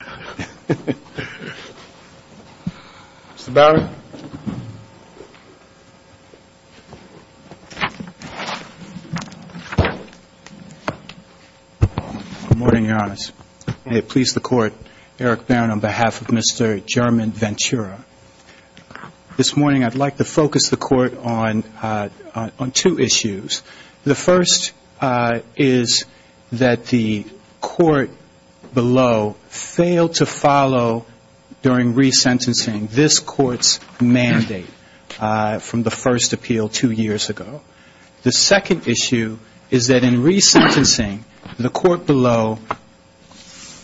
This morning I would like to focus the court on two issues. The first is that the court below failed to follow during resentencing this court's mandate from the first appeal two years ago. The second issue is that in resentencing the court below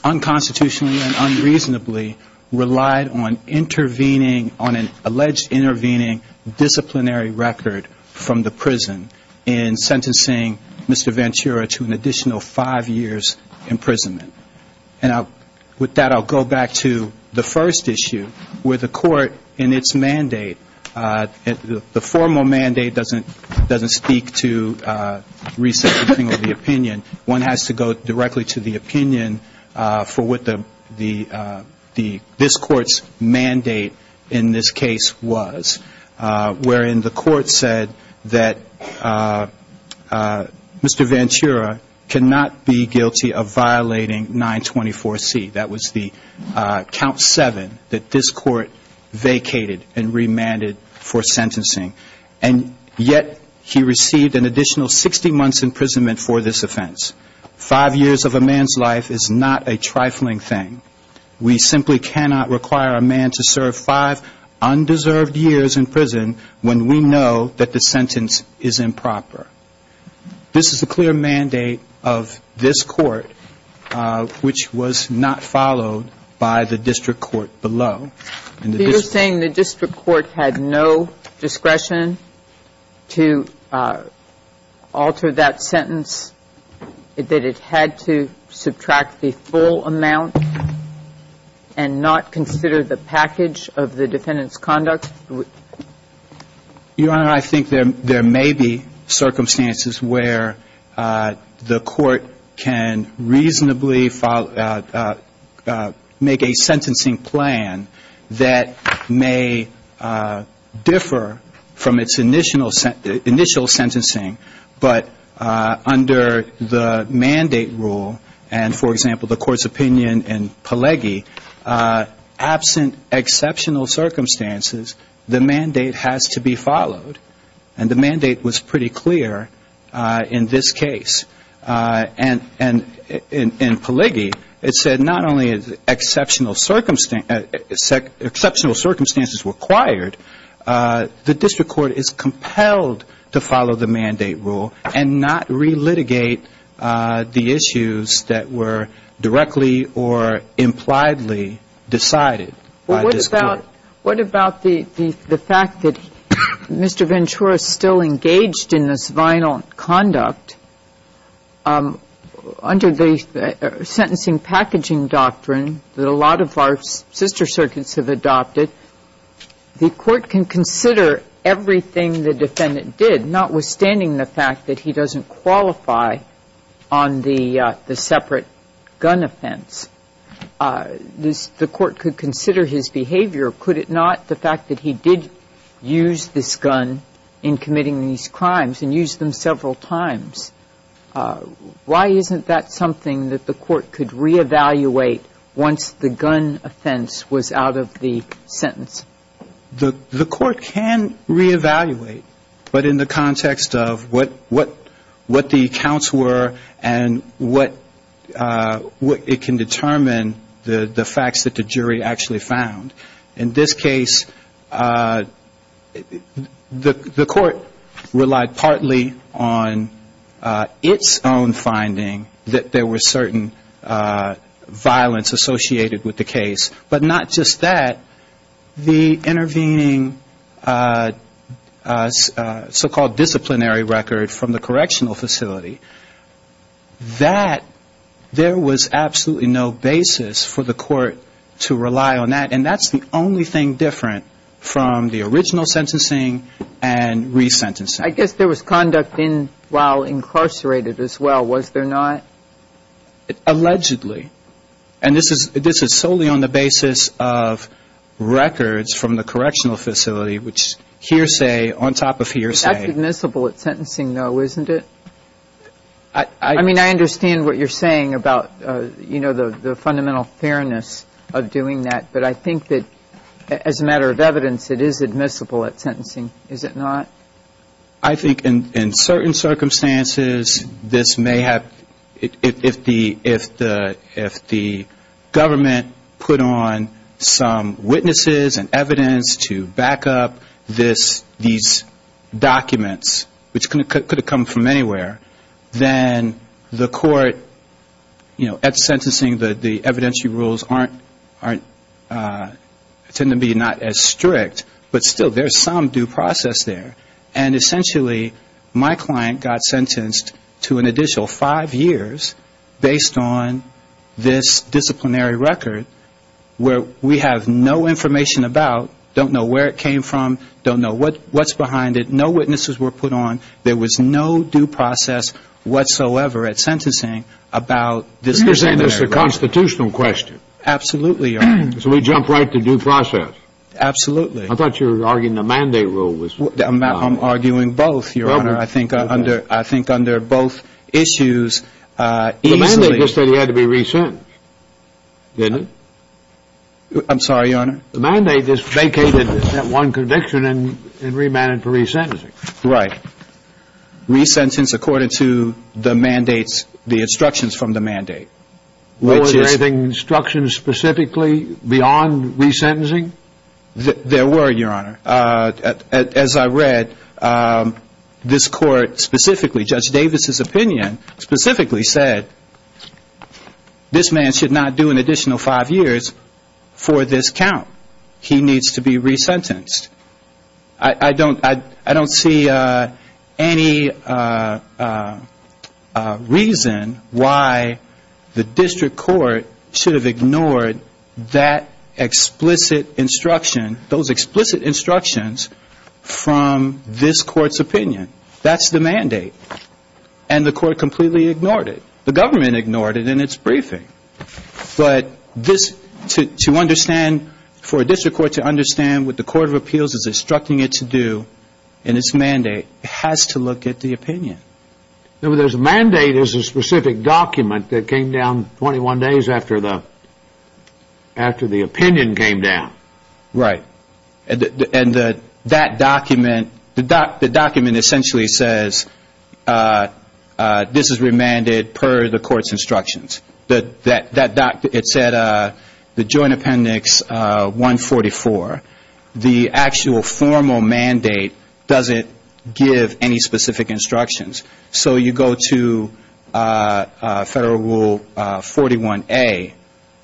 unconstitutionally and unreasonably relied on intervening on an alleged intervening disciplinary record from the prison in sentencing Mr. Ventura to an additional five years' imprisonment. And with that I'll go back to the first issue where the court in its mandate, the formal mandate doesn't speak to resentencing or the opinion. One has to go directly to the opinion for what this court's mandate in this case was wherein the court said that Mr. Ventura cannot be guilty of violating 924C. That was the count seven that this court vacated and remanded for sentencing. And yet he received an additional 60 months' imprisonment for this offense. Five years of a man's life is not a trifling thing. We simply cannot require a man to serve five undeserved years in prison when we know that the sentence is improper. This is a clear mandate of this court which was not followed by the district court below. So you're saying the district court had no discretion to alter that sentence, that it had to subtract the full amount and not consider the package of the defendant's conduct? Your Honor, I think there may be circumstances where the court can reasonably make a sentencing plan that may differ from its initial sentencing, but under the mandate rule and, for example, the court's opinion in Pelegi, absent exceptional circumstances, the mandate has to be followed. And the mandate was pretty clear in this case. And in Pelegi, it said not only is exceptional circumstances required, the district court is compelled to follow the mandate rule and not relitigate the issues that were directly or impliedly decided by this court. What about the fact that Mr. Ventura is still engaged in this violent conduct under the sentencing packaging doctrine that a lot of our sister circuits have adopted? The court can consider everything the defendant did, notwithstanding the fact that he doesn't qualify on the separate gun offense. The court could consider his behavior, could it not, the fact that he did use this gun in committing these crimes and used them several times. Why isn't that something that the court could reevaluate once the gun offense was out of the sentence? The court can reevaluate, but in the context of what the accounts were and what it can determine, the facts that the jury actually found. In this case, the court relied partly on its own finding that there was certain violence associated with the case, but not just that. The intervening so-called disciplinary record from the correctional facility, that there was absolutely no basis for the court to rely on that. And that's the only thing different from the original sentencing and resentencing. I guess there was conduct while incarcerated as well, was there not? Allegedly. And this is solely on the basis of records from the correctional facility, which hearsay on top of hearsay. That's admissible at sentencing, though, isn't it? I mean, I understand what you're saying about, you know, the fundamental fairness of doing that, but I think that as a matter of evidence, it is admissible at sentencing, is it not? I think in certain circumstances, this may have, if the government put on some witnesses and evidence to back up these documents, which could have come from anywhere, then the court, you know, at sentencing, the evidentiary rules tend to be not as strict, but still, there's some due process there. And essentially, my client got sentenced to an additional five years based on this disciplinary record, where we have no information about, don't know where it came from, don't know what's behind it, no witnesses were put on, there was no due process whatsoever at sentencing about this disciplinary record. You're saying it's a constitutional question. Absolutely, Your Honor. So we jump right to due process. Absolutely. I thought you were arguing the mandate rule was... I'm arguing both, Your Honor. Okay. I think under both issues, easily... The mandate just said he had to be resentenced, didn't it? I'm sorry, Your Honor? The mandate just vacated that one conviction and remanded for resentencing. Right. Resentence according to the mandates, the instructions from the mandate. Were there any instructions specifically beyond resentencing? There were, Your Honor. As I read, this court specifically, Judge Davis's opinion specifically said, this man should not do an additional five years for this count. He needs to be resentenced. I don't see any reason why the district court should have ignored that explicit instruction, those explicit instructions from this court's opinion. That's the mandate. And the court completely ignored it. The government ignored it in its briefing. But for a district court to understand what the court of appeals is instructing it to do in its mandate, it has to look at the opinion. Remember, there's a mandate. There's a specific document that came down 21 days after the opinion came down. Right. And that document, the document essentially says, this is remanded per the court's instructions. It said the joint appendix 144. The actual formal mandate doesn't give any specific instructions. So you go to Federal Rule 41A,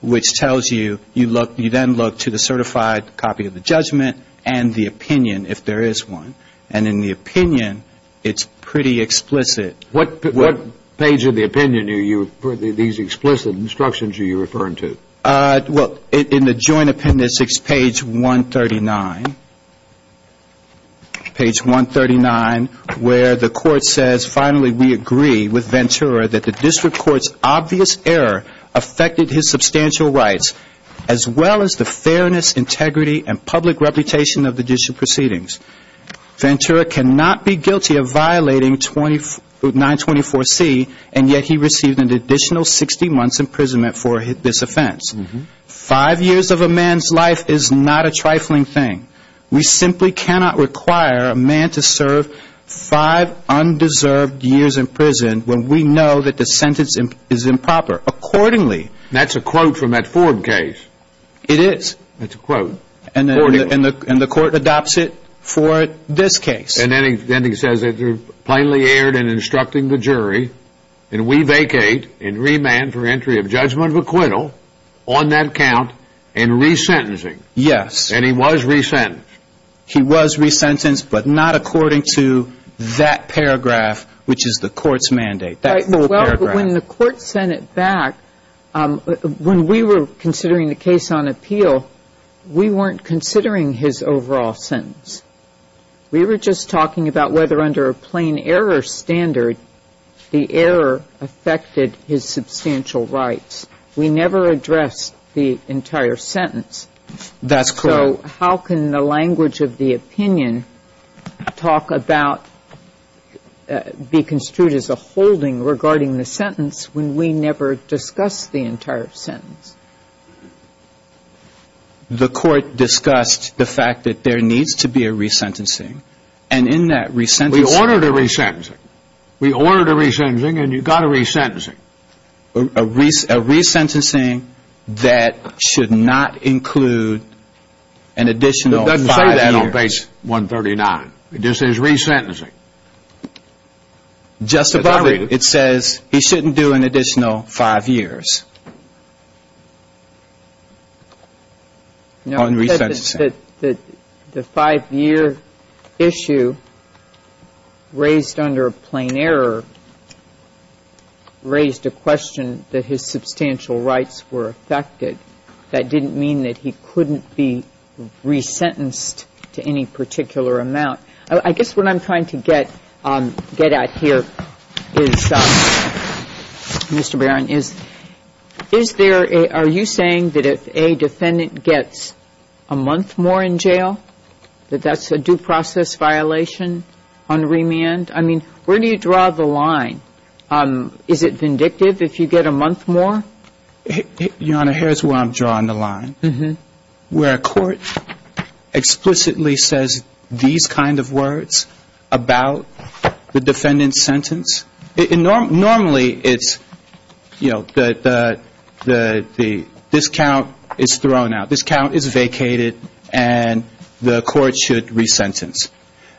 which tells you, you then look to the certified copy of the judgment and the opinion, if there is one. And in the opinion, it's pretty explicit. What page of the opinion are these explicit instructions you referring to? Well, in the joint appendix, it's page 139. Page 139, where the court says, finally we agree with Ventura that the district court's obvious error affected his substantial rights, as well as the fairness, integrity, and public reputation of the district proceedings. Ventura cannot be guilty of violating 924C, and yet he received an additional 60 months imprisonment for this offense. Five years of a man's life is not a trifling thing. We simply cannot require a man to serve five undeserved years in prison when we know that the sentence is improper, accordingly. That's a quote from that Ford case. It is. That's a quote. And the court adopts it for this case. And then he says, plainly erred in instructing the jury, and we vacate in remand for entry of judgment of acquittal on that count in resentencing. Yes. And he was resent. He was resentenced, but not according to that paragraph, which is the court's mandate. Well, when the court sent it back, when we were considering the case on appeal, we weren't considering his overall sentence. We were just talking about whether under a plain error standard the error affected his substantial rights. We never addressed the entire sentence. That's correct. So how can the language of the opinion talk about, be construed as a holding regarding the sentence when we never discussed the entire sentence? The court discussed the fact that there needs to be a resentencing. And in that resentencing. We ordered a resentencing. We ordered a resentencing, and you got a resentencing. A resentencing that should not include an additional five years. It doesn't say that on page 139. It just says resentencing. Justify it. It says he shouldn't do an additional five years on resentencing. The five-year issue raised under a plain error raised a question that his substantial rights were affected. That didn't mean that he couldn't be resentenced to any particular amount. I guess what I'm trying to get at here is, Mr. Barron, are you saying that if a defendant gets a month more in jail, that that's a due process violation on remand? I mean, where do you draw the line? Is it vindictive if you get a month more? Your Honor, here's where I'm drawing the line, where a court explicitly says these kind of words about the defendant's sentence. Normally, it's, you know, this count is thrown out. This count is vacated, and the court should resentence.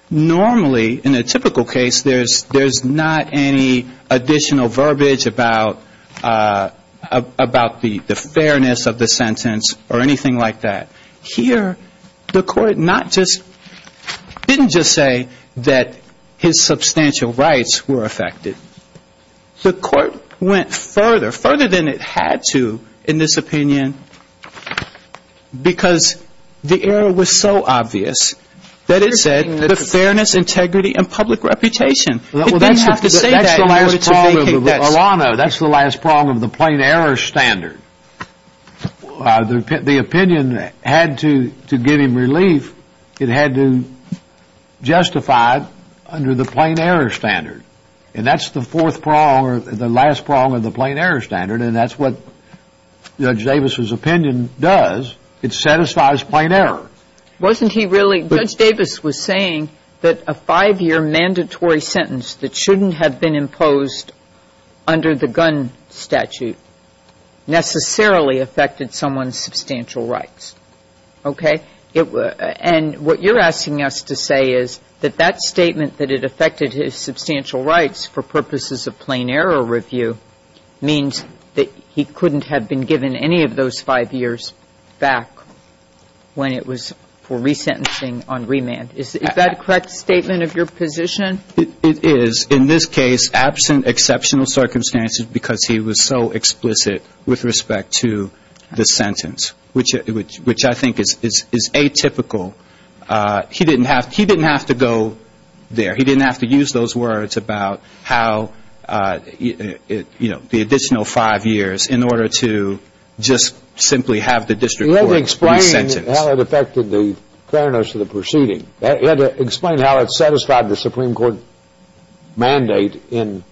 Normally, in a typical case, there's not any additional verbiage about the fairness of the sentence or anything like that. Here, the court didn't just say that his substantial rights were affected. The court went further, further than it had to in this opinion, because the error was so obvious that it said the fairness, integrity, and public reputation. It didn't have to say that in order to vacate that sentence. Your Honor, that's the last prong of the plain error standard. The opinion had to give him relief. It had to justify it under the plain error standard, and that's the fourth prong or the last prong of the plain error standard, and that's what Judge Davis's opinion does. It satisfies plain error. Wasn't he really – Judge Davis was saying that a five-year mandatory sentence that shouldn't have been imposed under the gun statute necessarily affected someone's substantial rights. Okay? And what you're asking us to say is that that statement that it affected his substantial rights for purposes of plain error review means that he couldn't have been given any of those five years back when it was for resentencing on remand. Is that a correct statement of your position? It is. In this case, absent exceptional circumstances because he was so explicit with respect to the sentence, which I think is atypical. He didn't have to go there. He didn't have to use those words about how, you know, the additional five years in order to just simply have the district court in the sentence. He had to explain how it affected the fairness of the proceeding. He had to explain how it satisfied the Supreme Court mandate in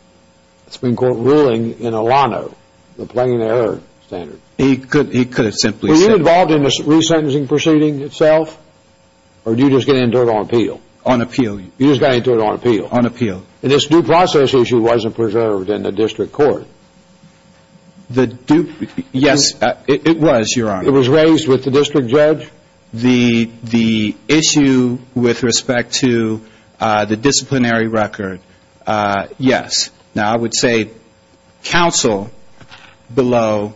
Supreme Court ruling in Alano, the plain error standard. He could have simply said – Were you involved in the resentencing proceeding itself, or did you just get into it on appeal? On appeal. You just got into it on appeal? On appeal. And this due process issue wasn't preserved in the district court? The due – yes, it was, Your Honor. It was raised with the district judge? The issue with respect to the disciplinary record, yes. Now, I would say counsel below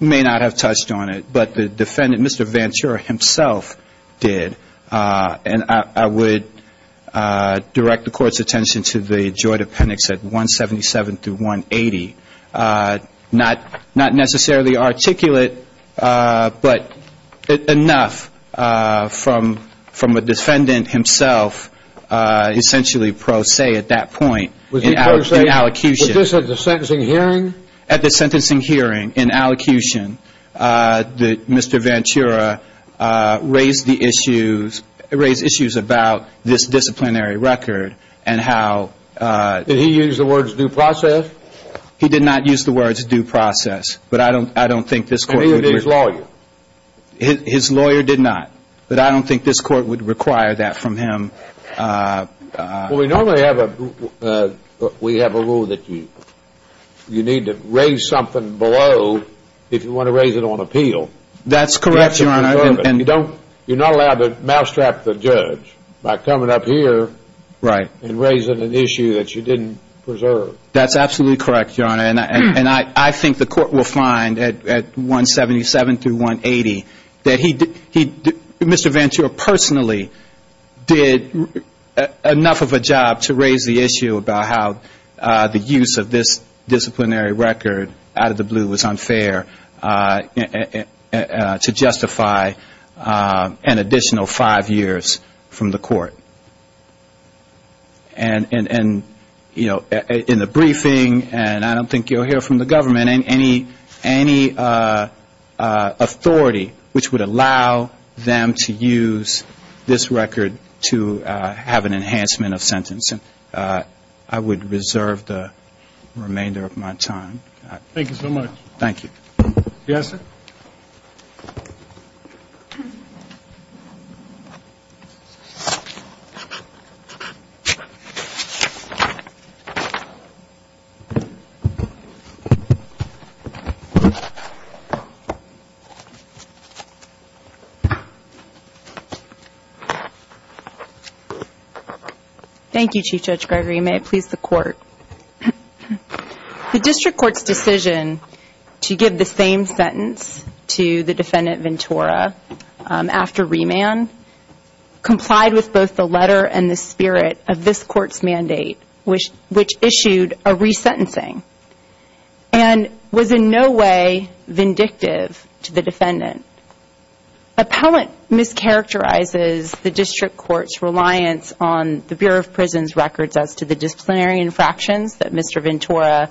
may not have touched on it, but the defendant, Mr. Ventura himself did. And I would direct the Court's attention to the joint appendix at 177 through 180. Not necessarily articulate, but enough from a defendant himself essentially pro se at that point. Was he pro se? In allocution. Was this at the sentencing hearing? At the sentencing hearing, in allocution, that Mr. Ventura raised the issues – raised issues about this disciplinary record and how – Did he use the words due process? He did not use the words due process, but I don't think this Court would – And he or his lawyer? His lawyer did not, but I don't think this Court would require that from him. Well, we normally have a rule that you need to raise something below if you want to raise it on appeal. That's correct, Your Honor. You're not allowed to mousetrap the judge by coming up here and raising an issue that you didn't preserve. That's absolutely correct, Your Honor. And I think the Court will find at 177 through 180 that he – Mr. Ventura personally did enough of a job to raise the issue about how the use of this disciplinary record out of the blue was unfair to justify an additional five years from the Court. And, you know, in the briefing, and I don't think you'll hear from the government, any authority which would allow them to use this record to have an enhancement of sentencing. I would reserve the remainder of my time. Thank you so much. Thank you. Yes, sir? Thank you. Thank you, Chief Judge Gregory. The District Court's decision to give the same sentence to the defendant Ventura after remand complied with both the letter and the spirit of this Court's mandate, which issued a resentencing, and was in no way vindictive to the defendant. Appellant mischaracterizes the District Court's reliance on the Bureau of Prisons' records as to the disciplinary infractions that Mr. Ventura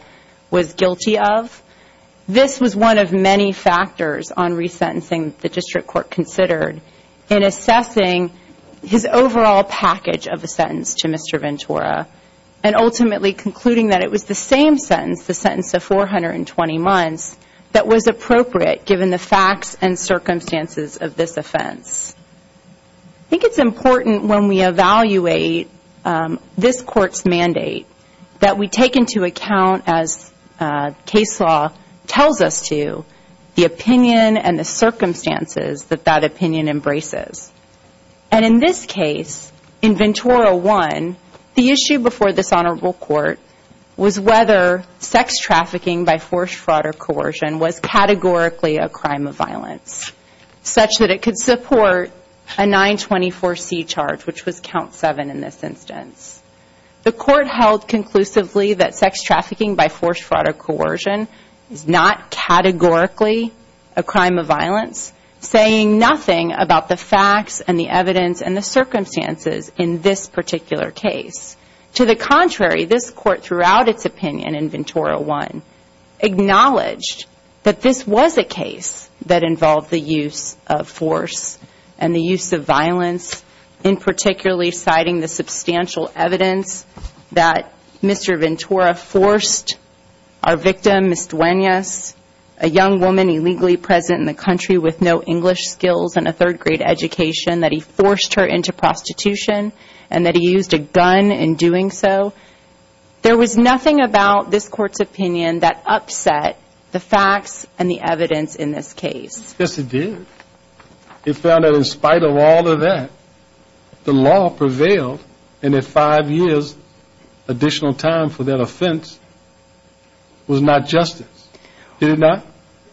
was guilty of. This was one of many factors on resentencing the District Court considered in assessing his overall package of a sentence to Mr. Ventura, and ultimately concluding that it was the same sentence, the sentence of 420 months, that was appropriate given the facts and circumstances of this offense. I think it's important when we evaluate this Court's mandate that we take into account, as case law tells us to, the opinion and the circumstances that that opinion embraces. And in this case, in Ventura 1, the issue before this Honorable Court was whether sex trafficking by forced fraud or coercion was categorically a crime of violence, such that it could support a 924C charge, which was Count 7 in this instance. The Court held conclusively that sex trafficking by forced fraud or coercion is not categorically a crime of violence, saying nothing about the facts and the evidence and the circumstances in this particular case. To the contrary, this Court, throughout its opinion in Ventura 1, acknowledged that this was a case that involved the use of force and the use of violence, in particularly citing the substantial evidence that Mr. Ventura forced our victim, Ms. Duenas, a young woman illegally present in the country with no English skills and a third grade education, that he forced her into prostitution and that he used a gun in doing so. There was nothing about this Court's opinion that upset the facts and the evidence in this case. Yes, it did. It found that in spite of all of that, the law prevailed and that five years additional time for that offense was not justice. Did it not?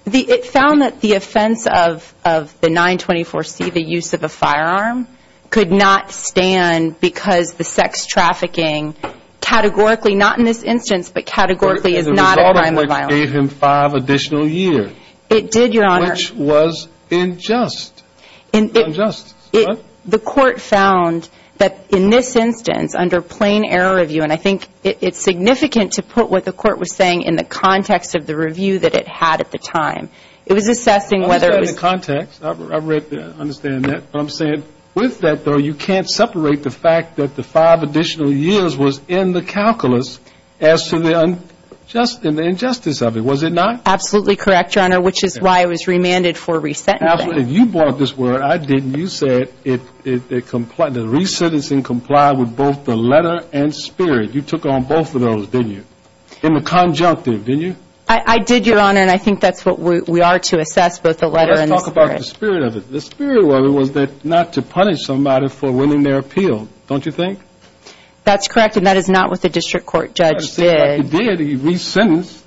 It found that the offense of the 924C, the use of a firearm, could not stand because the sex trafficking, categorically, not in this instance, but categorically, is not a crime of violence. The result of which gave him five additional years. It did, Your Honor. Which was unjust. The Court found that in this instance, under plain error review, and I think it's significant to put what the Court was saying in the context of the review that it had at the time, it was assessing whether it was... I understand that, but I'm saying with that, though, you can't separate the fact that the five additional years was in the calculus as to the injustice of it, was it not? Absolutely correct, Your Honor, which is why I was remanded for resentencing. You brought this word. I didn't. You said the resentencing complied with both the letter and spirit. You took on both of those, didn't you, in the conjunctive, didn't you? I did, Your Honor, and I think that's what we are to assess, both the letter and the spirit. Let's talk about the spirit of it. The spirit of it was not to punish somebody for winning their appeal, don't you think? That's correct, and that is not what the district court judge did. It did. He resentenced.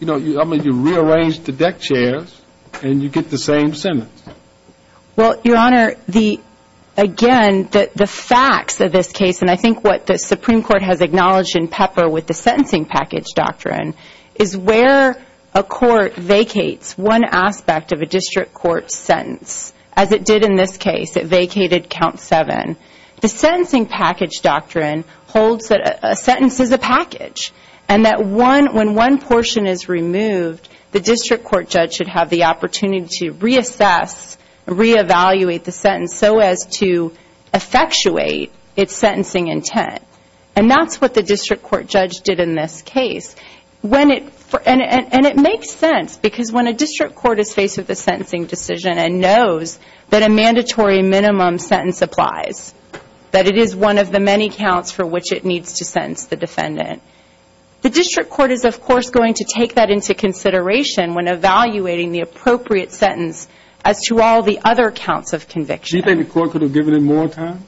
I mean, you rearranged the deck chairs, and you get the same sentence. Well, Your Honor, again, the facts of this case, and I think what the Supreme Court has acknowledged in pepper with the sentencing package doctrine, is where a court vacates one aspect of a district court sentence, as it did in this case. It vacated count seven. The sentencing package doctrine holds that a sentence is a package, and that when one portion is removed, the district court judge should have the opportunity to reassess, reevaluate the sentence so as to effectuate its sentencing intent, and that's what the district court judge did in this case. And it makes sense, because when a district court is faced with a sentencing decision and knows that a mandatory minimum sentence applies, that it is one of the many counts for which it needs to sentence the defendant, the district court is, of course, going to take that into consideration when evaluating the appropriate sentence as to all the other counts of conviction. Do you think the court could have given it more time?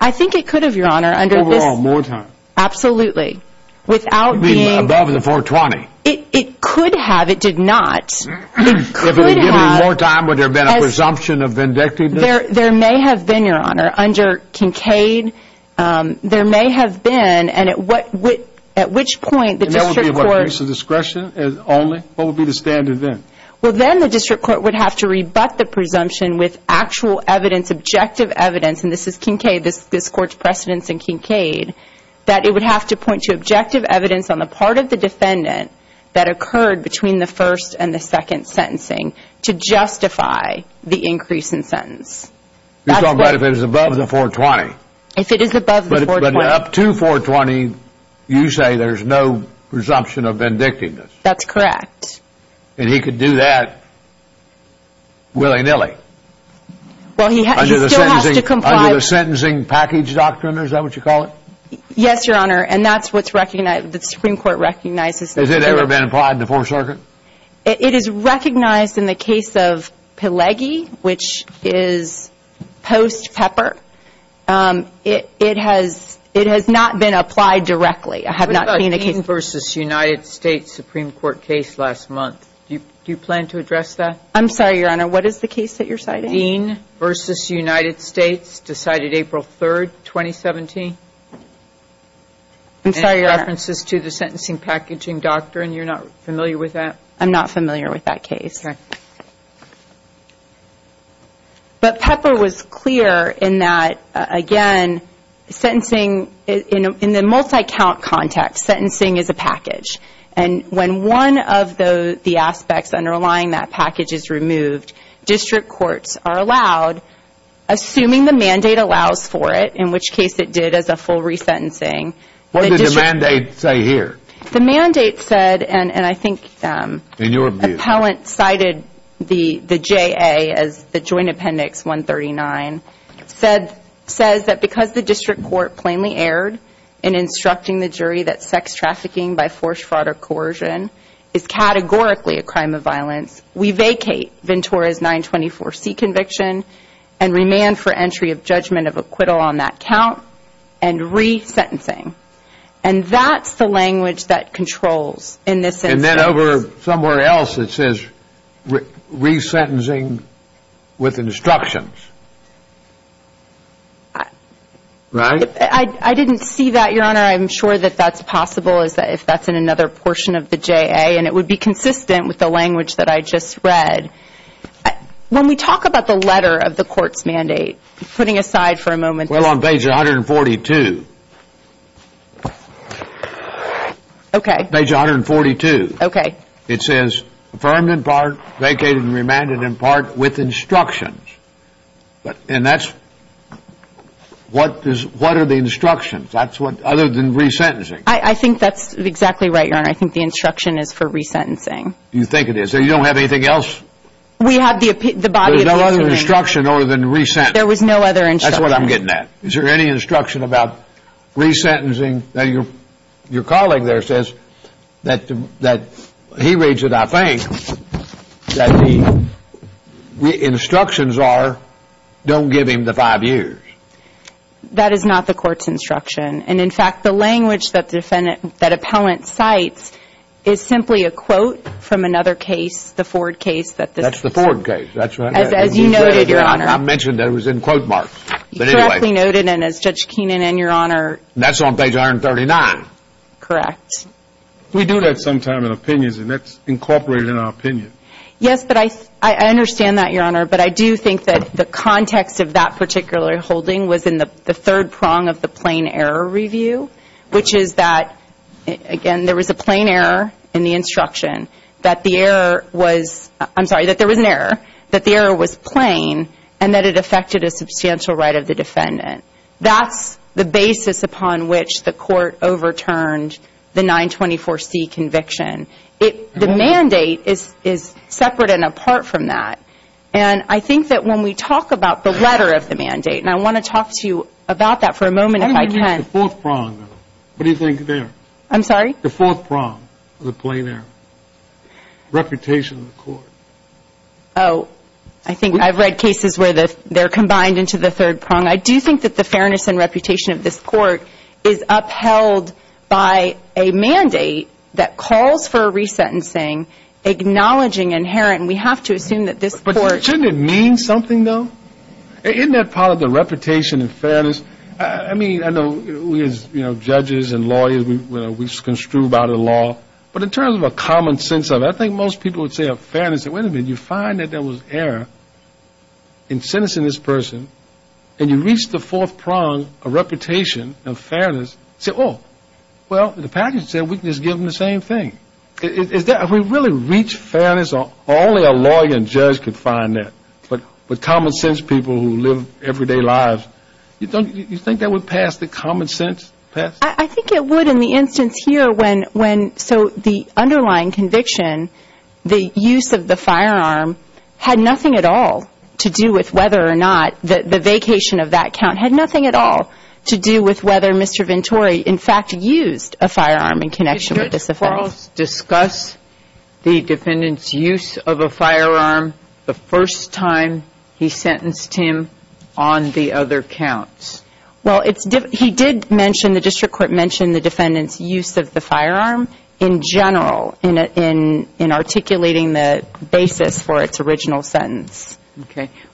I think it could have, Your Honor. Overall, more time. Absolutely. Without being... Above the 420. It could have. It did not. If it had given it more time, would there have been a presumption of vindictiveness? There may have been, Your Honor. Under Kincaid, there may have been, and at which point the district court... And that would be a piece of discretion only? What would be the standard then? Well, then the district court would have to rebut the presumption with actual evidence, objective evidence, and this is Kincaid, this court's precedence in Kincaid, that it would have to point to objective evidence on the part of the defendant that occurred between the first and the second sentencing to justify the increase in sentence. You're talking about if it was above the 420? If it is above the 420. But up to 420, you say there's no presumption of vindictiveness? That's correct. And he could do that willy-nilly? Well, he still has to comply... Yes, Your Honor, and that's what the Supreme Court recognizes. Has it ever been applied in the Fourth Circuit? It is recognized in the case of Pileggi, which is post Pepper. It has not been applied directly. I have not seen the case... What about Dean v. United States Supreme Court case last month? Do you plan to address that? I'm sorry, Your Honor, what is the case that you're citing? Dean v. United States, decided April 3, 2017? I'm sorry, Your Honor. Any references to the sentencing packaging doctrine? You're not familiar with that? I'm not familiar with that case. Okay. But Pepper was clear in that, again, sentencing, in the multi-count context, sentencing is a package. And when one of the aspects underlying that package is removed, district courts are allowed, assuming the mandate allows for it, in which case it did as a full resentencing. What did the mandate say here? The mandate said, and I think the appellant cited the JA as the Joint Appendix 139, says that because the district court plainly erred in instructing the jury that sex trafficking by forced fraud or coercion is categorically a crime of violence, we vacate Ventura's 924C conviction and remand for entry of judgment of acquittal on that count and resentencing. And that's the language that controls in this instance. And then over somewhere else it says resentencing with instructions, right? I didn't see that, Your Honor. I'm sure that that's possible if that's in another portion of the JA, and it would be consistent with the language that I just read. When we talk about the letter of the court's mandate, putting aside for a moment. Well, on page 142. Okay. Page 142. Okay. It says affirmed in part, vacated and remanded in part with instructions. And that's what are the instructions? That's what, other than resentencing. I think that's exactly right, Your Honor. I think the instruction is for resentencing. Do you think it is? You don't have anything else? We have the body of testimony. There's no other instruction other than resentencing. There was no other instruction. That's what I'm getting at. Is there any instruction about resentencing? Now, your colleague there says that he reads it, I think, that the instructions are don't give him the five years. That is not the court's instruction. And, in fact, the language that appellant cites is simply a quote from another case, the Ford case. That's the Ford case. That's right. As you noted, Your Honor. I mentioned that it was in quote marks. You correctly noted, and as Judge Keenan and your Honor. That's on page 139. Correct. We do that sometime in opinions, and that's incorporated in our opinion. Yes, but I understand that, Your Honor. But I do think that the context of that particular holding was in the third prong of the plain error review, which is that, again, there was a plain error in the instruction. That the error was, I'm sorry, that there was an error. That the error was plain, and that it affected a substantial right of the defendant. That's the basis upon which the court overturned the 924C conviction. The mandate is separate and apart from that. And I think that when we talk about the letter of the mandate, and I want to talk to you about that for a moment if I can. The fourth prong. What do you think there? I'm sorry? The fourth prong of the plain error. Reputation of the court. Oh, I think I've read cases where they're combined into the third prong. I do think that the fairness and reputation of this court is upheld by a mandate that calls for a resentencing, acknowledging inherent. We have to assume that this court. But shouldn't it mean something, though? Isn't that part of the reputation and fairness? I mean, I know we as, you know, judges and lawyers, we construe by the law. But in terms of a common sense of it, I think most people would say a fairness. Wait a minute, you find that there was error in sentencing this person, and you reach the fourth prong of reputation and fairness. Say, oh, well, the package said we can just give them the same thing. If we really reach fairness, only a lawyer and judge could find that. But common sense people who live everyday lives, you think that would pass the common sense test? I think it would in the instance here when so the underlying conviction, the use of the firearm, had nothing at all to do with whether or not the vacation of that count had nothing at all to do with whether Mr. Venturi in fact used a firearm in connection with this offense. Did Charles discuss the defendant's use of a firearm the first time he sentenced him on the other counts? Well, he did mention, the district court mentioned the defendant's use of the firearm in general in articulating the basis for its original sentence.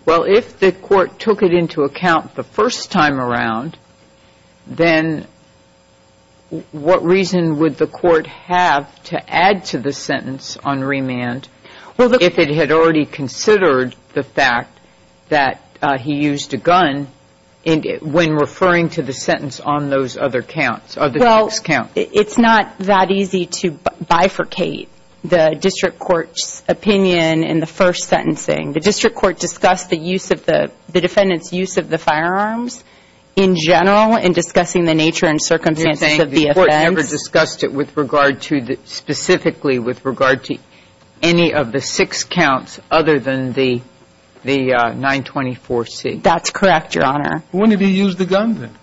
Well, if the court took it into account the first time around, then what reason would the court have to add to the sentence on remand if it had already considered the fact that he used a gun when referring to the sentence on those other counts? It's not that easy to bifurcate the district court's opinion in the first sentencing. The district court discussed the defendant's use of the firearms in general in discussing the nature and circumstances of the offense. You're saying the court never discussed it specifically with regard to any of the six counts other than the 924C? That's correct, Your Honor. When did he use the gun then?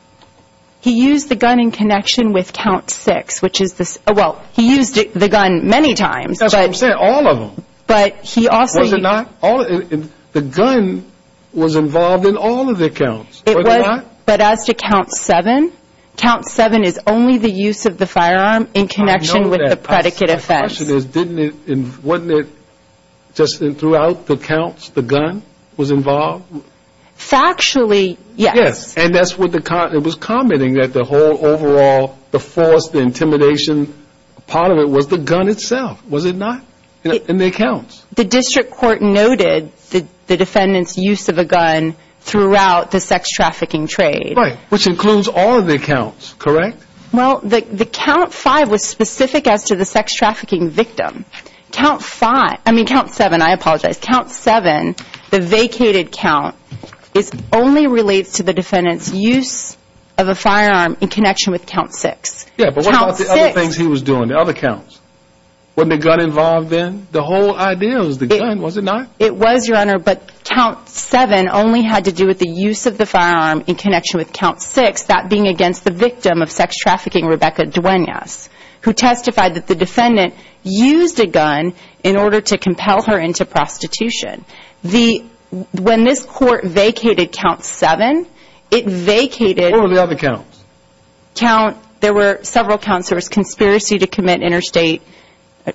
He used the gun in connection with count six, which is this, well, he used the gun many times. That's what I'm saying, all of them. Was it not? The gun was involved in all of the counts, was it not? It was, but as to count seven, count seven is only the use of the firearm in connection with the predicate offense. My question is, wasn't it just throughout the counts the gun was involved? Factually, yes. Yes, and it was commenting that the whole overall, the force, the intimidation part of it was the gun itself, was it not? In the accounts. The district court noted the defendant's use of a gun throughout the sex trafficking trade. Right, which includes all of the accounts, correct? Well, the count five was specific as to the sex trafficking victim. Count five, I mean count seven, I apologize. Count seven, the vacated count, only relates to the defendant's use of a firearm in connection with count six. Yeah, but what about the other things he was doing, the other counts? Wasn't the gun involved then? The whole idea was the gun, was it not? It was, Your Honor, but count seven only had to do with the use of the firearm in connection with count six, that being against the victim of sex trafficking, Rebecca Duenas, who testified that the defendant used a gun in order to compel her into prostitution. When this court vacated count seven, it vacated... What were the other counts? Count, there were several counts. There was conspiracy to commit interstate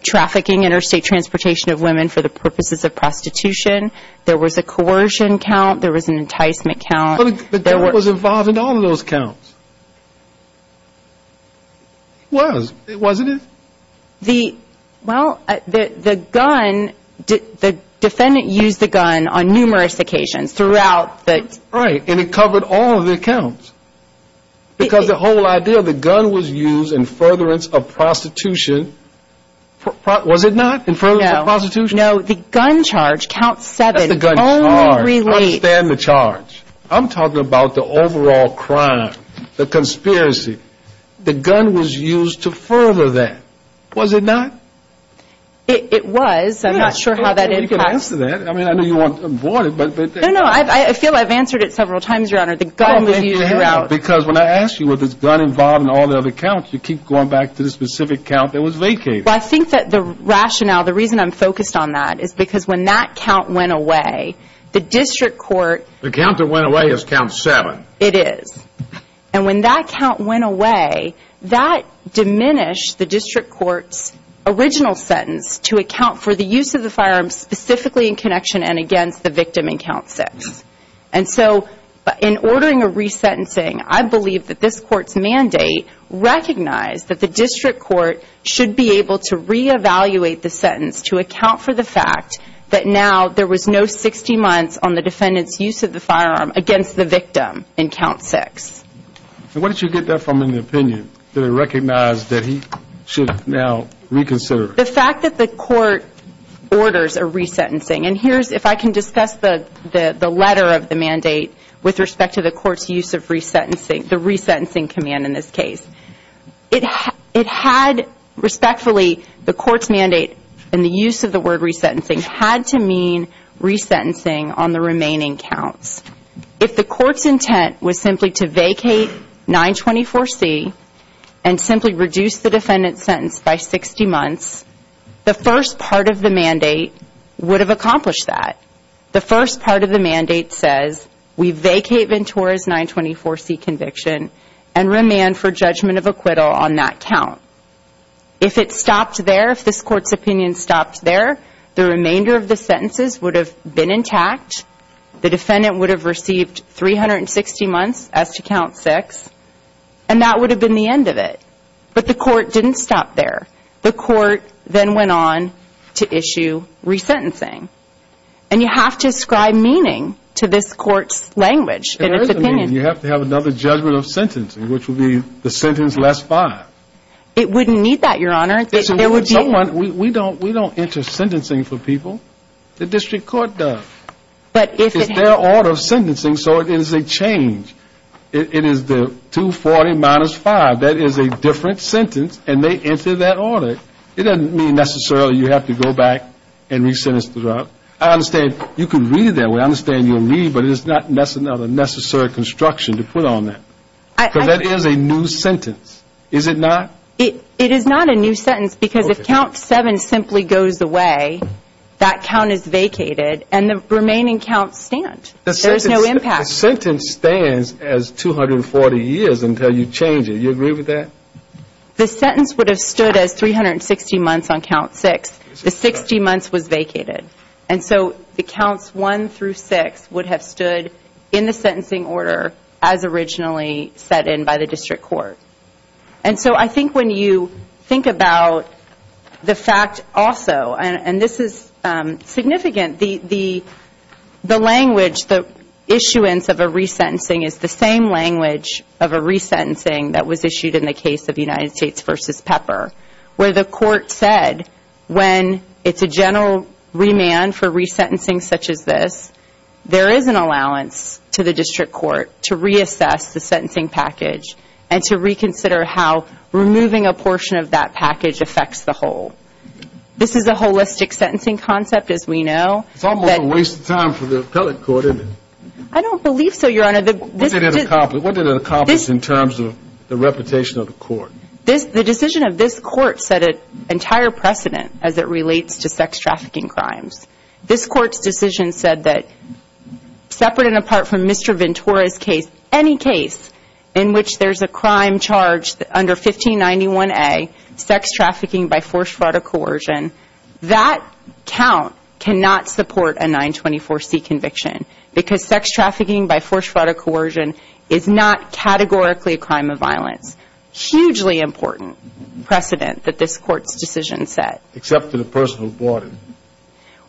trafficking, interstate transportation of women for the purposes of prostitution. There was a coercion count. There was an enticement count. But the gun was involved in all of those counts. It was, wasn't it? The, well, the gun, the defendant used the gun on numerous occasions throughout the... Because the whole idea of the gun was used in furtherance of prostitution. Was it not? In furtherance of prostitution? No, the gun charge, count seven, only relates... That's the gun charge. I understand the charge. I'm talking about the overall crime, the conspiracy. The gun was used to further that, was it not? It was. I'm not sure how that impacts... I'm not sure you can answer that. I mean, I know you want to avoid it, but... No, no, I feel I've answered it several times, Your Honor. The gun was used throughout. Because when I ask you, was this gun involved in all the other counts, you keep going back to the specific count that was vacated. Well, I think that the rationale, the reason I'm focused on that is because when that count went away, the district court... The count that went away is count seven. It is. And when that count went away, that diminished the district court's original sentence to account for the use of the firearm specifically in connection and against the victim in count six. And so in ordering a resentencing, I believe that this court's mandate recognized that the district court should be able to re-evaluate the sentence to account for the fact that now there was no 60 months on the defendant's use of the firearm against the victim in count six. And where did you get that from in the opinion? Did it recognize that he should now reconsider? The fact that the court orders a resentencing, and here's, if I can discuss the letter of the mandate with respect to the court's use of resentencing, the resentencing command in this case, it had, respectfully, the court's mandate and the use of the word resentencing had to mean resentencing on the remaining counts. If the court's intent was simply to vacate 924C and simply reduce the defendant's sentence by 60 months, the first part of the mandate would have accomplished that. The first part of the mandate says, we vacate Ventura's 924C conviction and remand for judgment of acquittal on that count. If it stopped there, if this court's opinion stopped there, the remainder of the sentences would have been intact. The defendant would have received 360 months as to count six, and that would have been the end of it. But the court didn't stop there. The court then went on to issue resentencing. And you have to ascribe meaning to this court's language and its opinion. You have to have another judgment of sentencing, which would be the sentence less five. It wouldn't need that, Your Honor. We don't enter sentencing for people. The district court does. It's their order of sentencing, so it is a change. It is the 240 minus five. That is a different sentence, and they enter that order. It doesn't mean necessarily you have to go back and re-sentence the drug. I understand you can read it that way. I understand you'll read, but it is not necessary construction to put on that. Because that is a new sentence, is it not? It is not a new sentence because if count seven simply goes away, that count is vacated, and the remaining counts stand. There is no impact. The sentence stands as 240 years until you change it. Do you agree with that? The sentence would have stood as 360 months on count six. The 60 months was vacated. And so the counts one through six would have stood in the sentencing order as originally set in by the district court. And so I think when you think about the fact also, and this is significant, the language, the issuance of a re-sentencing is the same language of a re-sentencing that was issued in the case of United States v. Pepper where the court said when it's a general remand for re-sentencing such as this, there is an allowance to the district court to reassess the sentencing package and to reconsider how removing a portion of that package affects the whole. This is a holistic sentencing concept, as we know. It's almost a waste of time for the appellate court, isn't it? I don't believe so, Your Honor. What did it accomplish in terms of the reputation of the court? The decision of this court set an entire precedent as it relates to sex trafficking crimes. This court's decision said that separate and apart from Mr. Ventura's case, any case in which there's a crime charged under 1591A, sex trafficking by forced fraud or coercion, that count cannot support a 924C conviction because sex trafficking by forced fraud or coercion is not categorically a crime of violence. Hugely important precedent that this court's decision set. Except for the person who bought it.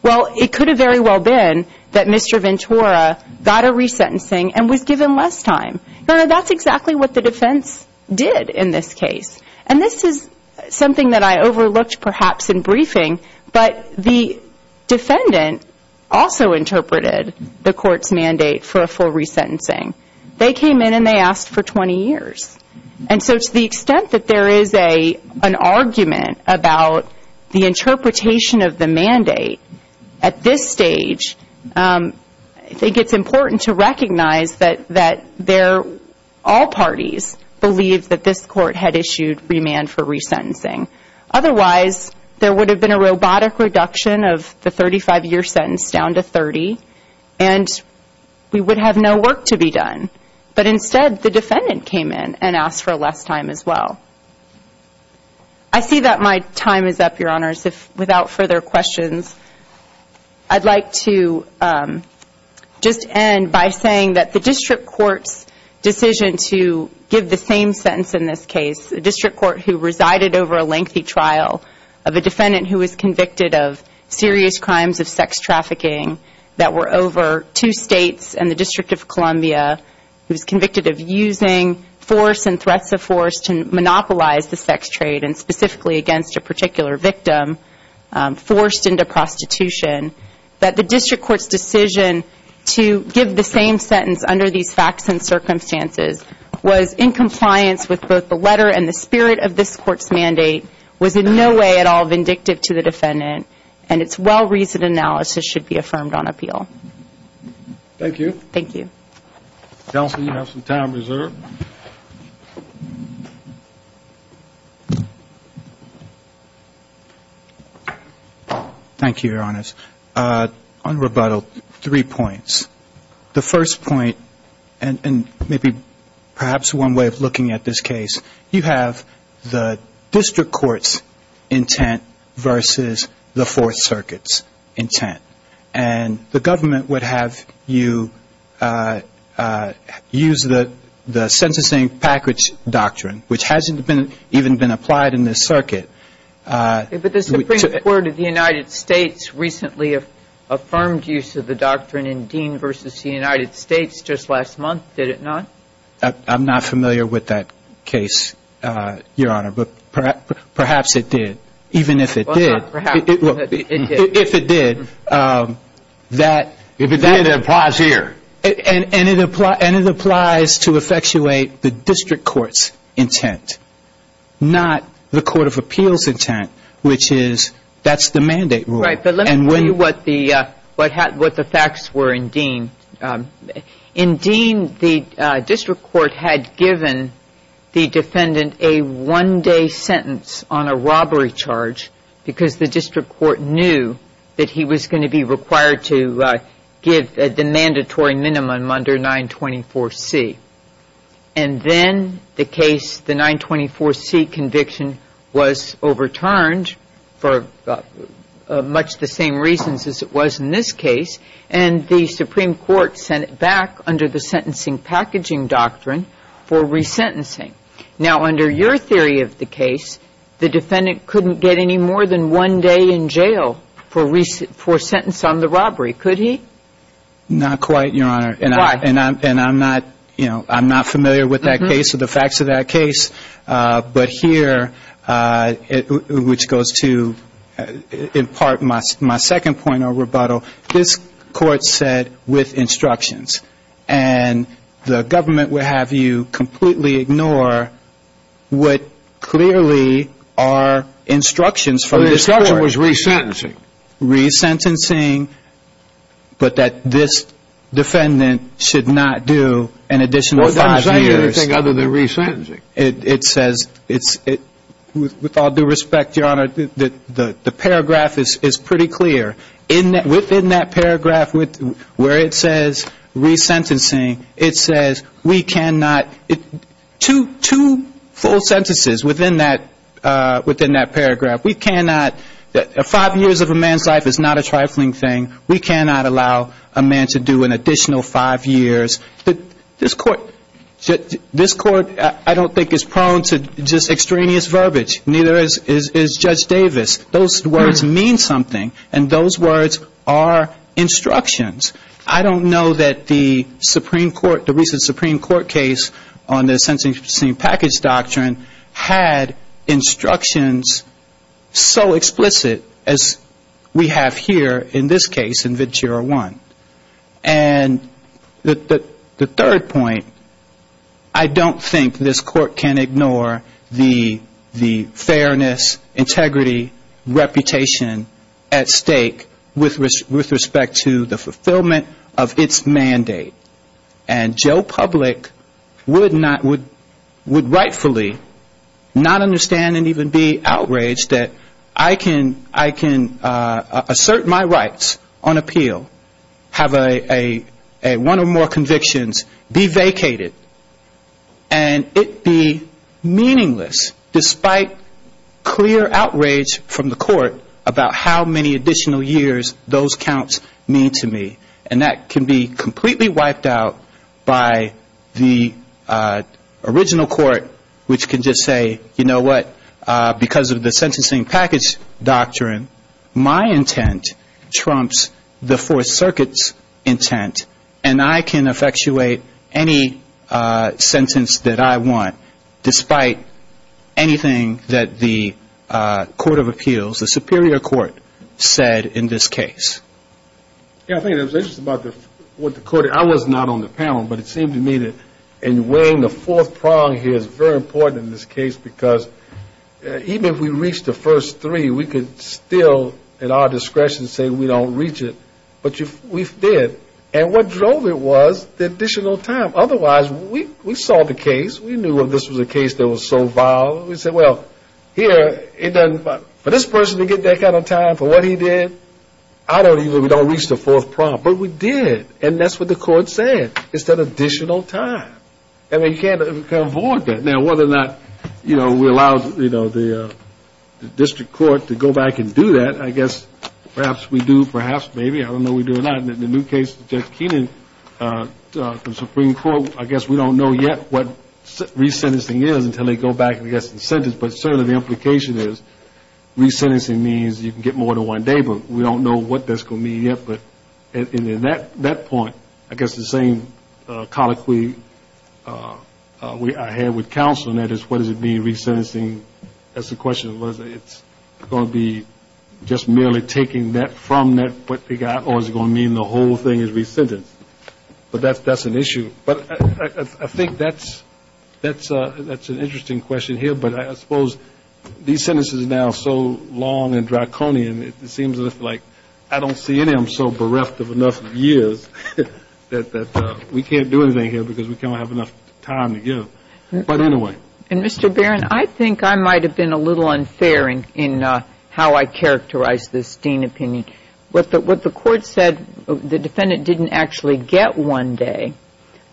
Well, it could have very well been that Mr. Ventura got a re-sentencing and was given less time. Your Honor, that's exactly what the defense did in this case. And this is something that I overlooked perhaps in briefing, but the defendant also interpreted the court's mandate for a full re-sentencing. They came in and they asked for 20 years. And so to the extent that there is an argument about the interpretation of the mandate at this stage, I think it's important to recognize that all parties believe that this court had issued remand for re-sentencing. Otherwise, there would have been a robotic reduction of the 35-year sentence down to 30, and we would have no work to be done. But instead, the defendant came in and asked for less time as well. I see that my time is up, Your Honors. Without further questions, I'd like to just end by saying that the district court's decision to give the same sentence in this case, a district court who resided over a lengthy trial of a defendant who was convicted of serious crimes of sex trafficking that were over two states and the District of Columbia, who was convicted of using force and threats of force to monopolize the sex trade, and specifically against a particular victim forced into prostitution, that the district court's decision to give the same sentence under these facts and circumstances was in compliance with both the letter and the spirit of this court's mandate, was in no way at all vindictive to the defendant, and its well-reasoned analysis should be affirmed on appeal. Thank you. Thank you. Counsel, you have some time reserved. Thank you, Your Honors. On rebuttal, three points. The first point, and maybe perhaps one way of looking at this case, you have the district court's intent versus the Fourth Circuit's intent. And the government would have you use the sentencing package doctrine, which hasn't even been applied in this circuit. But the Supreme Court of the United States recently affirmed use of the doctrine in Dean v. the United States just last month, did it not? I'm not familiar with that case, Your Honor, but perhaps it did. Even if it did. Well, not perhaps, but it did. If it did. If it did, it applies here. And it applies to effectuate the district court's intent, not the court of appeals' intent, which is, that's the mandate rule. Right, but let me tell you what the facts were in Dean. In Dean, the district court had given the defendant a one-day sentence on a robbery charge, because the district court knew that he was going to be required to give the mandatory minimum under 924C. And then the case, the 924C conviction, was overturned for much the same reasons as it was in this case, and the Supreme Court sent it back under the sentencing packaging doctrine for resentencing. Now, under your theory of the case, the defendant couldn't get any more than one day in jail for sentence on the robbery, could he? Not quite, Your Honor. Why? And I'm not, you know, I'm not familiar with that case or the facts of that case. But here, which goes to, in part, my second point of rebuttal, this Court said with instructions. And the government would have you completely ignore what clearly are instructions from this Court. The instruction was resentencing. Resentencing, but that this defendant should not do an additional five years. Well, it doesn't say anything other than resentencing. It says, with all due respect, Your Honor, the paragraph is pretty clear. Within that paragraph where it says resentencing, it says we cannot, two full sentences within that paragraph. We cannot, five years of a man's life is not a trifling thing. We cannot allow a man to do an additional five years. This Court, I don't think, is prone to just extraneous verbiage. Neither is Judge Davis. Those words mean something. And those words are instructions. I don't know that the Supreme Court, the recent Supreme Court case on the resentencing package doctrine, had instructions so explicit as we have here in this case in Vid-01. And the third point, I don't think this Court can ignore the fairness, integrity, reputation at stake with respect to the fulfillment of its mandate. And Joe Public would not, would rightfully not understand and even be outraged that I can assert my rights on appeal. Have one or more convictions be vacated. And it be meaningless, despite clear outrage from the Court about how many additional years those counts mean to me. And that can be completely wiped out by the original Court, which can just say, you know what, because of the sentencing package doctrine, my intent trumps the Fourth Circuit's intent, and I can effectuate any sentence that I want, despite anything that the Court of Appeals, the Superior Court, said in this case. Yeah, I think it was interesting about what the Court, I was not on the panel, but it seemed to me that in weighing the fourth prong here is very important in this case, because even if we reached the first three, we could still, at our discretion, say we don't reach it. But we did. And what drove it was the additional time. Otherwise, we saw the case, we knew this was a case that was so vile, we said, well, here, for this person to get that kind of time for what he did, I don't even, we don't reach the fourth prong. But we did. And that's what the Court said. It's that additional time. And we can't avoid that. Now, whether or not, you know, we allow, you know, the district court to go back and do that, I guess perhaps we do, perhaps maybe, I don't know we do or not. In the new case, Judge Keenan, the Supreme Court, I guess we don't know yet what resentencing is until they go back and get some sentence. But certainly the implication is resentencing means you can get more than one day. But we don't know what that's going to mean yet. But in that point, I guess the same colloquy I had with counsel on that is what does it mean, resentencing? That's the question. It's going to be just merely taking that from that what they got, or is it going to mean the whole thing is resentenced? But that's an issue. But I think that's an interesting question here. But I suppose these sentences are now so long and draconian, it seems like I don't see any of them so bereft of enough years that we can't do anything here because we don't have enough time to give. But anyway. And, Mr. Barron, I think I might have been a little unfair in how I characterized this Dean opinion. What the court said, the defendant didn't actually get one day.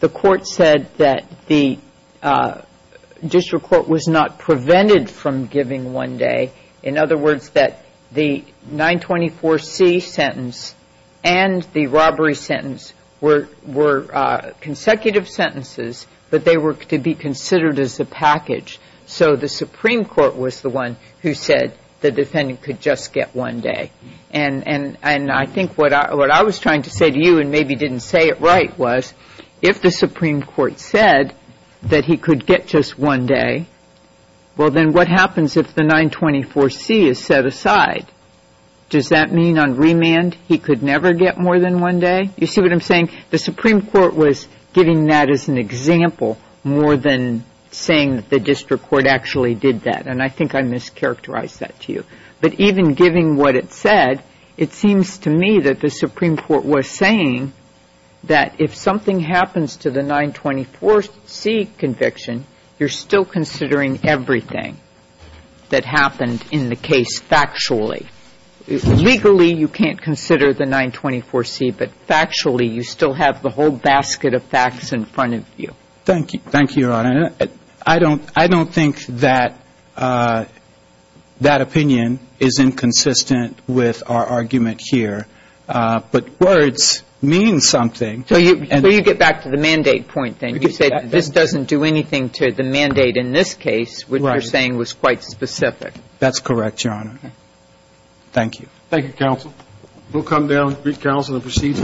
The court said that the district court was not prevented from giving one day. In other words, that the 924C sentence and the robbery sentence were consecutive sentences, but they were to be considered as a package. So the Supreme Court was the one who said the defendant could just get one day. And I think what I was trying to say to you, and maybe didn't say it right, was if the Supreme Court said that he could get just one day, well, then what happens if the 924C is set aside? Does that mean on remand he could never get more than one day? You see what I'm saying? The Supreme Court was giving that as an example more than saying that the district court actually did that. And I think I mischaracterized that to you. But even giving what it said, it seems to me that the Supreme Court was saying that if something happens to the 924C conviction, you're still considering everything that happened in the case factually. Legally, you can't consider the 924C, but factually, you still have the whole basket of facts in front of you. Thank you. Thank you, Your Honor. I don't think that that opinion is inconsistent with our argument here. But words mean something. So you get back to the mandate point, then. You said this doesn't do anything to the mandate in this case, which you're saying was quite specific. That's correct, Your Honor. Thank you. Thank you, counsel. We'll come down to brief counsel and proceed to the next case. Thank you.